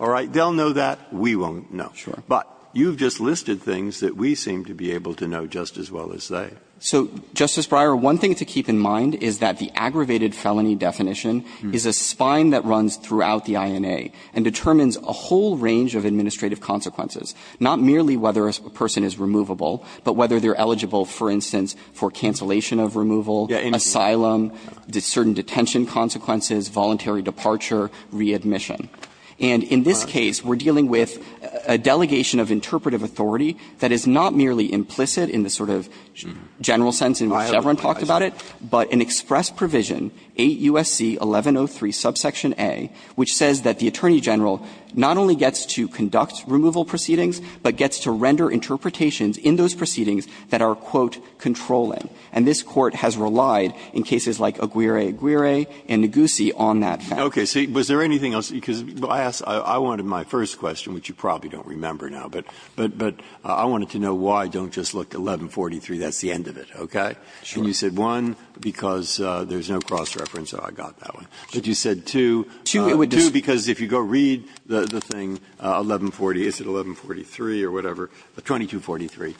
All right? They'll know that, we won't know. But you've just listed things that we seem to be able to know just as well as they. So, Justice Breyer, one thing to keep in mind is that the aggravated felony definition is a spine that runs throughout the INA and determines a whole range of administrative consequences, not merely whether a person is removable, but whether they're eligible, for instance, for cancellation of removal, asylum, certain detention consequences, voluntary departure, readmission. And in this case, we're dealing with a delegation of interpretive authority that is not merely implicit in the sort of general sense in which Chevron talked about it, but an express provision, 8 U.S.C. 1103, subsection A, which says that the Attorney General not only gets to conduct removal proceedings, but gets to render interpretations in those proceedings that are, quote, controlling. And this Court has relied in cases like Aguirre-Aguirre and Ngozi on that. Breyer. Okay. See, was there anything else? Because I asked my first question, which you probably don't remember now. But I wanted to know why don't you just look at 1143, that's the end of it, okay? And you said one, because there's no cross-reference, so I got that one. But you said two, two because if you go read the thing, 1140, is it 1143 or whatever? 2243.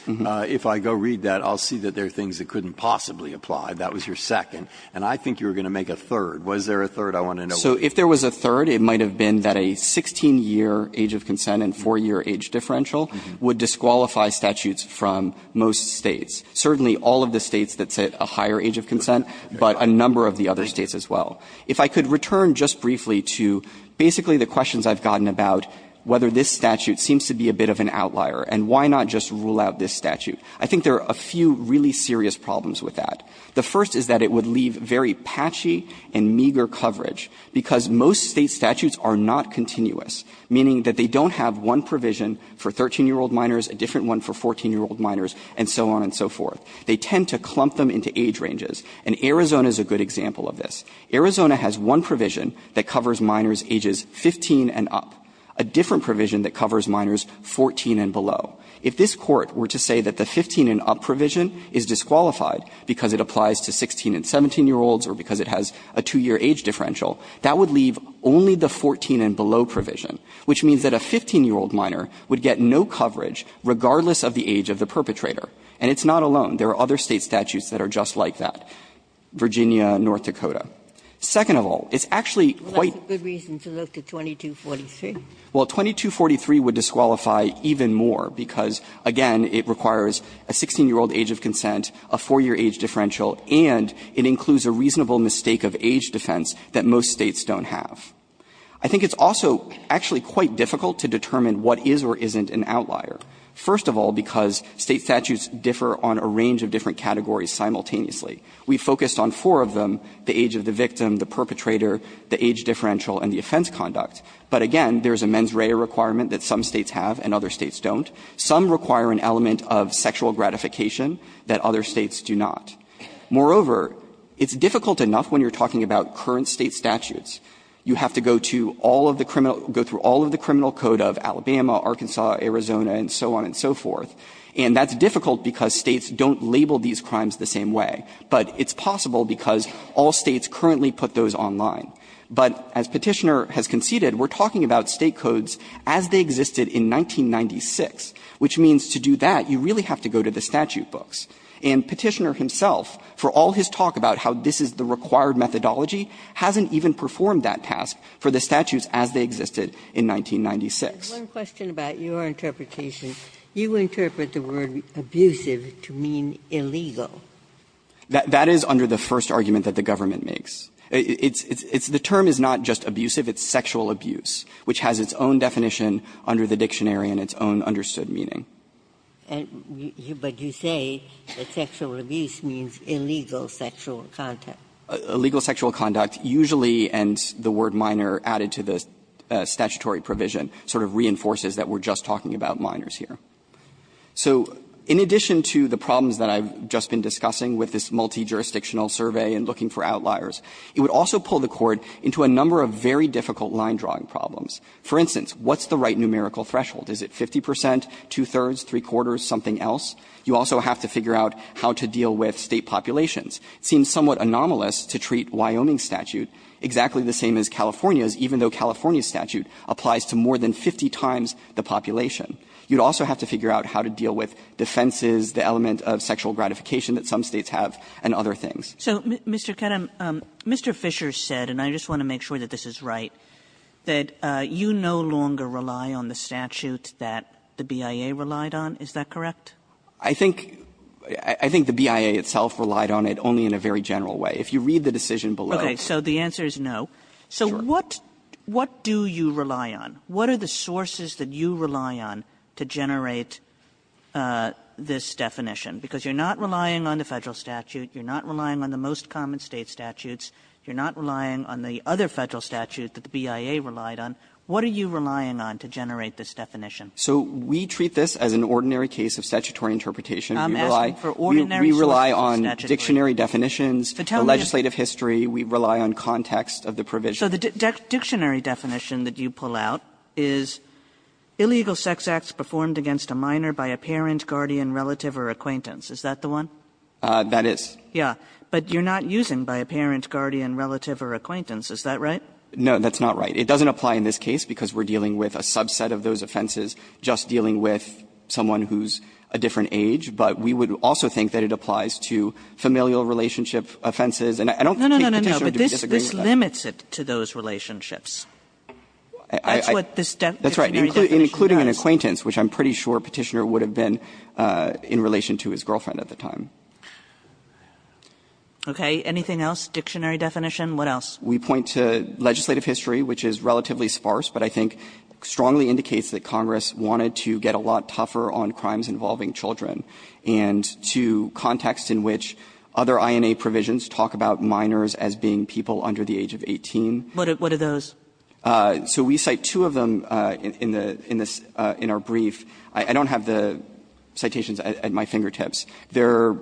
If I go read that, I'll see that there are things that couldn't possibly apply. That was your second. And I think you were going to make a third. Was there a third? I want to know. So if there was a third, it might have been that a 16-year age of consent and 4-year age differential would disqualify statutes from most States, certainly all of the States that sit a higher age of consent, but a number of the other States as well. If I could return just briefly to basically the questions I've gotten about whether this statute seems to be a bit of an outlier, and why not just rule out this statute, I think there are a few really serious problems with that. The first is that it would leave very patchy and meager coverage, because most State statutes are not continuous, meaning that they don't have one provision for 13-year-old minors, a different one for 14-year-old minors, and so on and so forth. They tend to clump them into age ranges, and Arizona is a good example of this. Arizona has one provision that covers minors ages 15 and up, a different provision that covers minors 14 and below. If this Court were to say that the 15-and-up provision is disqualified because it applies to 16- and 17-year-olds or because it has a 2-year age differential, that would leave only the 14-and-below provision, which means that a 15-year-old minor would get no coverage regardless of the age of the perpetrator. And it's not alone. There are other State statutes that are just like that, Virginia, North Dakota. Second of all, it's actually quite quite. Ginsburg. Well, that's a good reason to look to 2243. Well, 2243 would disqualify even more, because, again, it requires a 16-year-old age of consent, a 4-year age differential, and it includes a reasonable mistake of age defense that most States don't have. I think it's also actually quite difficult to determine what is or isn't an outlier. First of all, because State statutes differ on a range of different categories simultaneously. We focused on four of them, the age of the victim, the perpetrator, the age differential, and the offense conduct. But, again, there's a mens rea requirement that some States have and other States don't. Some require an element of sexual gratification that other States do not. Moreover, it's difficult enough when you're talking about current State statutes. You have to go to all of the criminal – go through all of the criminal code of Alabama, Arkansas, Arizona, and so on and so forth. And that's difficult because States don't label these crimes the same way. But it's possible because all States currently put those online. But as Petitioner has conceded, we're talking about State codes as they existed in 1996, which means to do that, you really have to go to the statute books. And Petitioner himself, for all his talk about how this is the required methodology, hasn't even performed that task for the statutes as they existed in 1996. Ginsburg-Your question about your interpretation, you interpret the word abusive to mean illegal. That is under the first argument that the government makes. It's – the term is not just abusive, it's sexual abuse, which has its own definition under the dictionary and its own understood meaning. And you – but you say that sexual abuse means illegal sexual conduct. Illegal sexual conduct usually, and the word minor added to the statutory provision, sort of reinforces that we're just talking about minors here. So in addition to the problems that I've just been discussing with this multijurisdictional survey and looking for outliers, it would also pull the Court into a number of very difficult line-drawing problems. For instance, what's the right numerical threshold? Is it 50 percent, two-thirds, three-quarters, something else? You also have to figure out how to deal with State populations. It seems somewhat anomalous to treat Wyoming's statute exactly the same as California's, even though California's statute applies to more than 50 times the population. You'd also have to figure out how to deal with defenses, the element of sexual gratification that some States have, and other things. Kagan. Kagan. Kagan. Kagan. Kagan. Kagan. Kagan. Kagan. Kagan. Kagan. Kagan. Kagan. Kagan. the BIA relied on, is that correct? I think the BIA itself relied on it only in a very general way. If you read the decision below. Okay, so the answer is no. What do you rely on? What are the sources that you rely on to generate this definition? Because you're not relying on the Federal statute. You're not relying on the most common State statutes. You're not relying on the other Federal statute that the BIA relied on. What are you relying on to generate this definition? So we treat this as an ordinary case of statutory interpretation. We rely on dictionary definitions, the legislative history. We rely on context of the provision. So the dictionary definition that you pull out is, illegal sex acts performed against a minor by a parent, guardian, relative, or acquaintance. Is that the one? That is. Yeah. But you're not using by a parent, guardian, relative, or acquaintance. Is that right? No, that's not right. It doesn't apply in this case, because we're dealing with a subset of those offenses, just dealing with someone who's a different age. But we would also think that it applies to familial relationship offenses. And I don't think Petitioner would disagree with that. No, no, no, no, but this limits it to those relationships. That's what this dictionary definition does. That's right, including an acquaintance, which I'm pretty sure Petitioner would have been in relation to his girlfriend at the time. Okay. Anything else? Dictionary definition? What else? We point to legislative history, which is relatively sparse, but I think strongly indicates that Congress wanted to get a lot tougher on crimes involving children and to context in which other INA provisions talk about minors as being people under the age of 18. What are those? So we cite two of them in the — in our brief. I don't have the citations at my fingertips. The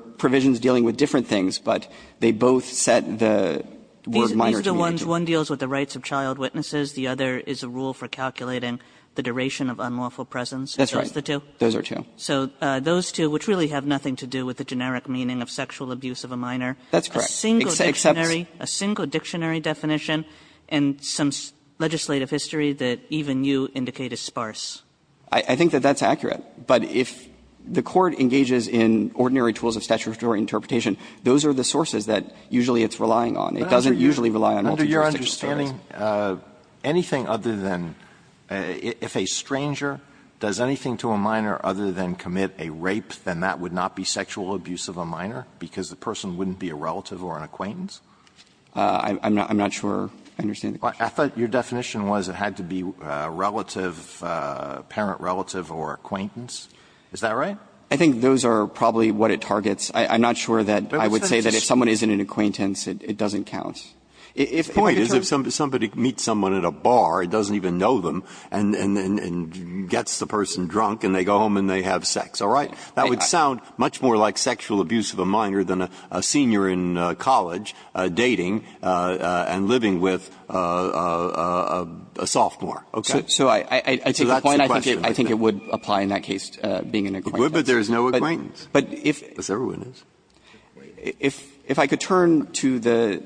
other ones, one deals with the rights of child witnesses, the other is a rule for calculating the duration of unlawful presence. That's right. Those are the two? Those are two. So those two, which really have nothing to do with the generic meaning of sexual abuse of a minor. That's correct. A single dictionary definition and some legislative history that even you indicate is sparse. I think that that's accurate. But if the Court engages in ordinary tools of statutory interpretation, those are the sources that usually it's relying on. It doesn't usually rely on multidimensional targets. Under your understanding, anything other than — if a stranger does anything to a minor other than commit a rape, then that would not be sexual abuse of a minor, because the person wouldn't be a relative or an acquaintance? I'm not sure I understand the question. I thought your definition was it had to be relative, parent-relative or acquaintance. Is that right? I think those are probably what it targets. I'm not sure that I would say that if someone isn't an acquaintance, it doesn't count. If the point is if somebody meets someone at a bar, doesn't even know them, and gets the person drunk, and they go home and they have sex, all right, that would sound much more like sexual abuse of a minor than a senior in college dating and living with a sophomore. Okay? So I take the point, I think it would apply in that case, being an acquaintance. But there is no acquaintance. But if I could turn to the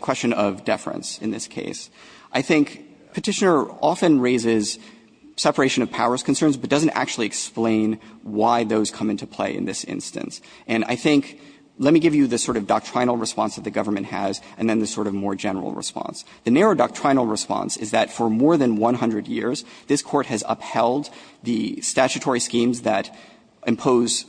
question of deference in this case. I think Petitioner often raises separation of powers concerns, but doesn't actually explain why those come into play in this instance. And I think, let me give you the sort of doctrinal response that the government has and then the sort of more general response. The narrow doctrinal response is that for more than 100 years, this Court has upheld the statutory schemes that impose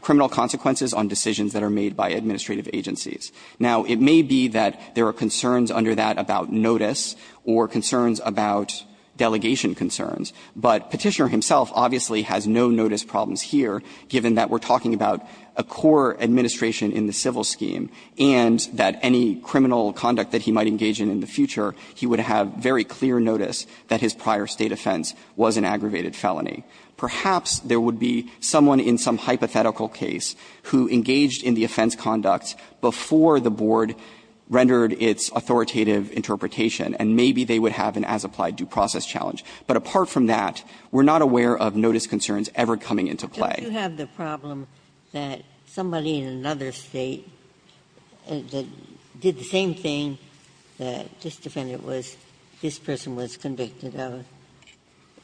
criminal consequences on decisions that are made by administrative agencies. Now, it may be that there are concerns under that about notice or concerns about delegation concerns, but Petitioner himself obviously has no notice problems here, given that we're talking about a core administration in the civil scheme, and that any criminal conduct that he might engage in in the future, he would have very clear notice that his prior State offense was an aggravated felony. Perhaps there would be someone in some hypothetical case who engaged in the offense conduct before the Board rendered its authoritative interpretation, and maybe they would have an as-applied due process challenge. But apart from that, we're not aware of notice concerns ever coming into play. Ginsburg. Ginsburg. Do you have the problem that somebody in another State did the same thing that this defendant was, this person was convicted of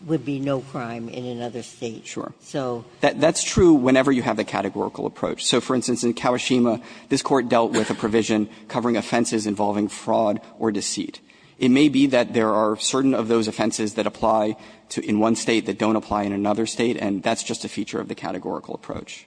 would be no crime in another State? So. Sure. That's true whenever you have the categorical approach. So for instance, in Kawashima, this Court dealt with a provision covering offenses involving fraud or deceit. It may be that there are certain of those offenses that apply in one State that don't apply in another State, and that's just a feature of the categorical approach.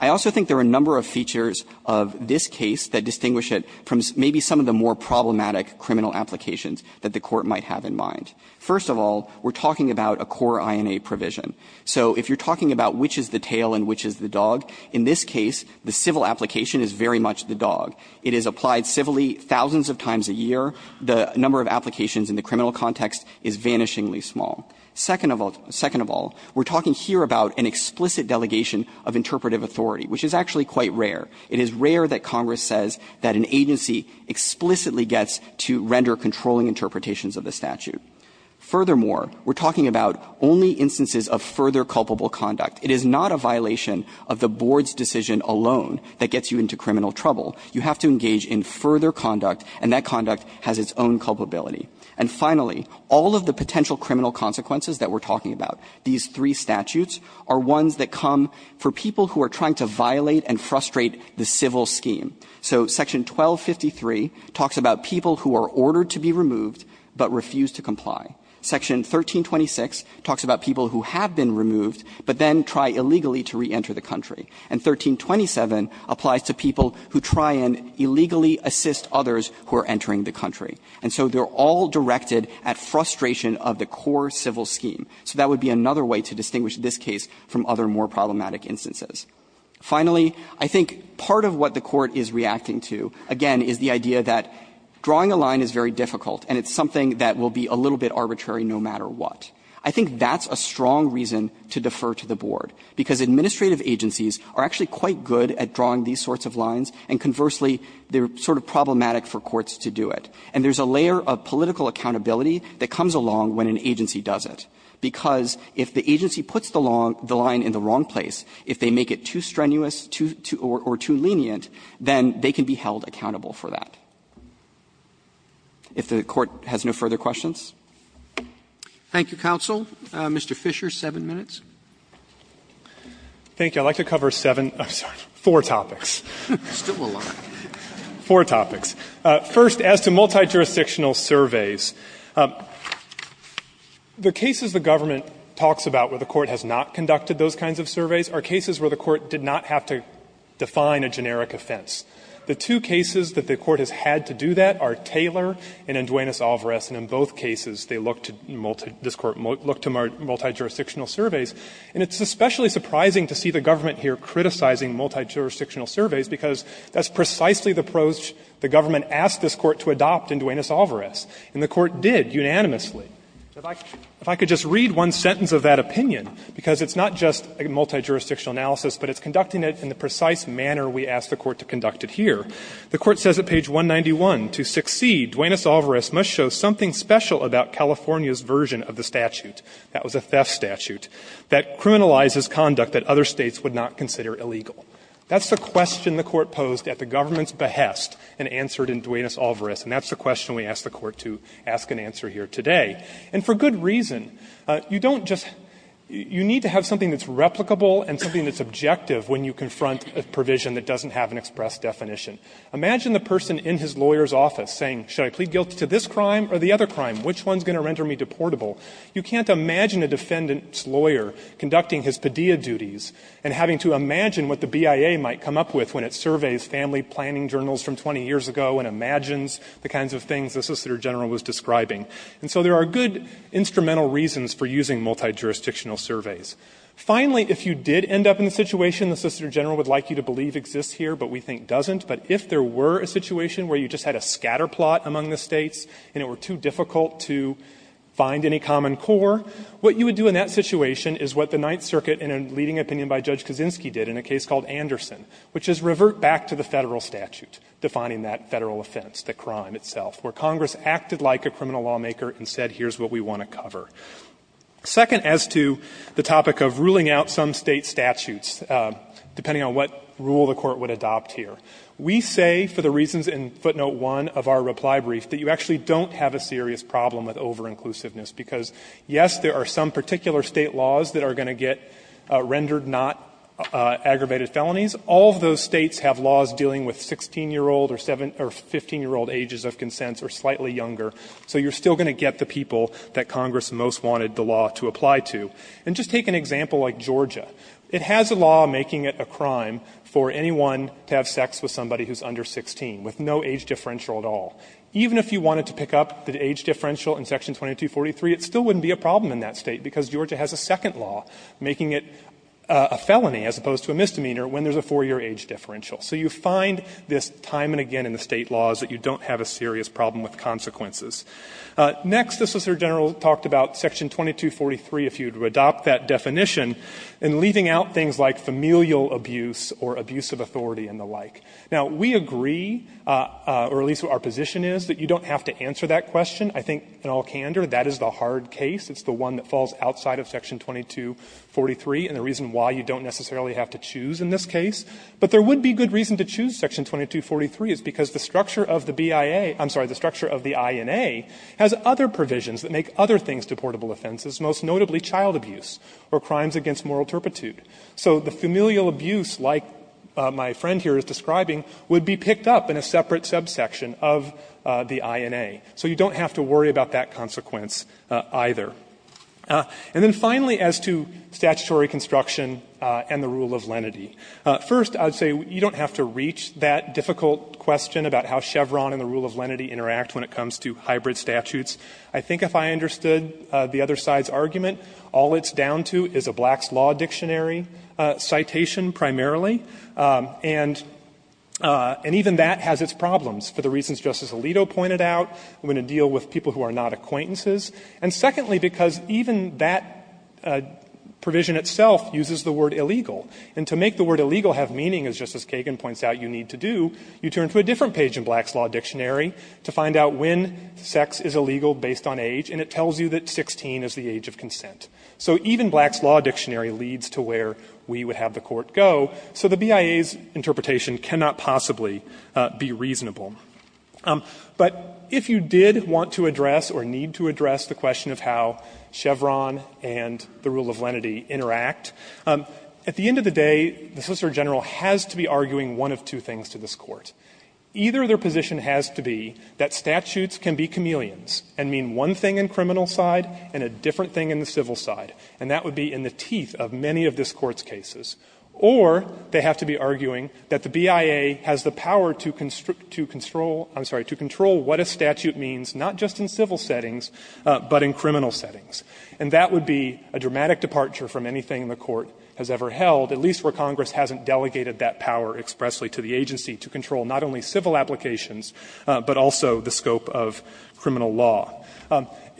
I also think there are a number of features of this case that distinguish it from maybe some of the more problematic criminal applications that the Court might have in mind. First of all, we're talking about a core INA provision. So if you're talking about which is the tail and which is the dog, in this case, the civil application is very much the dog. It is applied civilly thousands of times a year. The number of applications in the criminal context is vanishingly small. Second of all, we're talking here about an explicit delegation of interpretive authority, which is actually quite rare. It is rare that Congress says that an agency explicitly gets to render controlling interpretations of the statute. Furthermore, we're talking about only instances of further culpable conduct. It is not a violation of the Board's decision alone that gets you into criminal trouble. You have to engage in further conduct, and that conduct has its own culpability. And finally, all of the potential criminal consequences that we're talking about, these three statutes, are ones that come for people who are trying to violate and frustrate the civil scheme. So Section 1253 talks about people who are ordered to be removed but refuse to comply. Section 1326 talks about people who have been removed but then try illegally to reenter the country. And 1327 applies to people who try and illegally assist others who are entering the country. And so they're all directed at frustration of the core civil scheme. So that would be another way to distinguish this case from other more problematic instances. Finally, I think part of what the Court is reacting to, again, is the idea that drawing a line is very difficult and it's something that will be a little bit arbitrary no matter what. I think that's a strong reason to defer to the Board, because administrative agencies are actually quite good at drawing these sorts of lines, and conversely, they're sort of problematic for courts to do it. And there's a layer of political accountability that comes along when an agency does it, because if the agency puts the line in the wrong place, if they make it too strenuous or too lenient, then they can be held accountable for that. If the Court has no further questions. Roberts. Thank you, counsel. Mr. Fisher, seven minutes. Fisher. Thank you. I'd like to cover seven or four topics. Four topics. First, as to multijurisdictional surveys. The cases the government talks about where the Court has not conducted those kinds of surveys are cases where the Court did not have to define a generic offense. The two cases that the Court has had to do that are Taylor and in Duenas-Alvarez, and in both cases, they looked to multijurisdictional surveys. And it's especially surprising to see the government here criticizing multijurisdictional surveys, because that's precisely the approach the government asked this Court to adopt in Duenas-Alvarez, and the Court did unanimously. If I could just read one sentence of that opinion, because it's not just a multijurisdictional analysis, but it's conducting it in the precise manner we asked the Court to conduct it here. The Court says at page 191, to succeed, Duenas-Alvarez must show something special about California's version of the statute. That was a theft statute that criminalizes conduct that other States would not consider illegal. That's the question the Court posed at the government's behest and answered in Duenas-Alvarez, and that's the question we asked the Court to ask and answer here today. And for good reason. You don't just you need to have something that's replicable and something that's objective when you confront a provision that doesn't have an express definition. Imagine the person in his lawyer's office saying, should I plead guilt to this crime or the other crime? Which one is going to render me deportable? You can't imagine a defendant's lawyer conducting his PDEA duties and having to imagine what the BIA might come up with when it surveys family planning journals from 20 years ago and imagines the kinds of things the Assistant Attorney General was describing. And so there are good instrumental reasons for using multijurisdictional surveys. Finally, if you did end up in the situation the Assistant Attorney General would like you to believe exists here, but we think doesn't, but if there were a situation where you just had a scatterplot among the States and it were too difficult to find any common core, what you would do in that situation is what the Ninth Circuit in a leading opinion by Judge Kaczynski did in a case called Anderson, which is revert back to the Federal statute defining that Federal offense, the crime itself, where Congress acted like a criminal lawmaker and said, here's what we want to cover. Second, as to the topic of ruling out some State statutes, depending on what rule the Court would adopt here, we say for the reasons in footnote 1 of our reply brief that you actually don't have a serious problem with over-inclusiveness because, yes, there are some particular State laws that are going to get rendered not aggravated felonies. All of those States have laws dealing with 16-year-old or 15-year-old ages of consents or slightly younger, so you're still going to get the people that Congress most wanted the law to apply to. And just take an example like Georgia. It has a law making it a crime for anyone to have sex with somebody who's under 16, with no age differential at all. Even if you wanted to pick up the age differential in Section 2243, it still wouldn't be a problem in that State because Georgia has a second law making it a felony as opposed to a misdemeanor when there's a 4-year age differential. So you find this time and again in the State laws that you don't have a serious problem with consequences. Next, the Solicitor General talked about Section 2243, if you would adopt that definition, in leaving out things like familial abuse or abuse of authority and the like. Now, we agree, or at least our position is, that you don't have to answer that question. I think in all candor, that is the hard case. It's the one that falls outside of Section 2243 and the reason why you don't necessarily have to choose in this case. But there would be good reason to choose Section 2243 is because the structure of the BIA – I'm sorry, the structure of the INA has other provisions that make other things deportable offenses, most notably child abuse or crimes against moral turpitude. So the familial abuse, like my friend here is describing, would be picked up in a separate subsection of the INA. So you don't have to worry about that consequence either. And then finally, as to statutory construction and the rule of lenity, first I would say you don't have to reach that difficult question about how Chevron and the rule of lenity interact when it comes to hybrid statutes. I think if I understood the other side's argument, all it's down to is a Black's Law Dictionary citation primarily. And even that has its problems for the reasons Justice Alito pointed out, when to deal with people who are not acquaintances, and secondly, because even that provision itself uses the word illegal. And to make the word illegal have meaning, as Justice Kagan points out, you need to do, you turn to a different page in Black's Law Dictionary to find out when sex is illegal based on age, and it tells you that 16 is the age of consent. So even Black's Law Dictionary leads to where we would have the Court go, so the BIA's interpretation cannot possibly be reasonable. But if you did want to address or need to address the question of how Chevron and the rule of lenity interact, at the end of the day, the Solicitor General has to be arguing one of two things to this Court. Either their position has to be that statutes can be chameleons and mean one thing in the criminal side and a different thing in the civil side, and that would be in the teeth of many of this Court's cases. Or they have to be arguing that the BIA has the power to control, I'm sorry, to control what a statute means, not just in civil settings, but in criminal settings. And that would be a dramatic departure from anything the Court has ever held, at least where Congress hasn't delegated that power expressly to the agency to control not only civil applications, but also the scope of criminal law.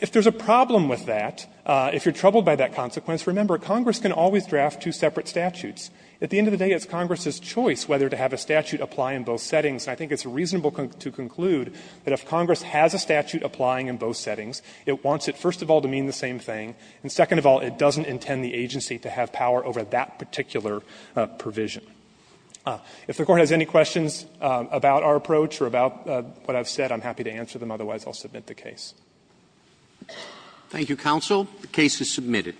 If there's a problem with that, if you're troubled by that consequence, remember, Congress can always draft two separate statutes. At the end of the day, it's Congress's choice whether to have a statute apply in both settings. And I think it's reasonable to conclude that if Congress has a statute applying in both settings, it wants it, first of all, to mean the same thing, and second of all, it doesn't intend the agency to have power over that particular provision. If the Court has any questions about our approach or about what I've said, I'm happy to answer them. Otherwise, I'll submit the case. Thank you, Counsel. The case is submitted.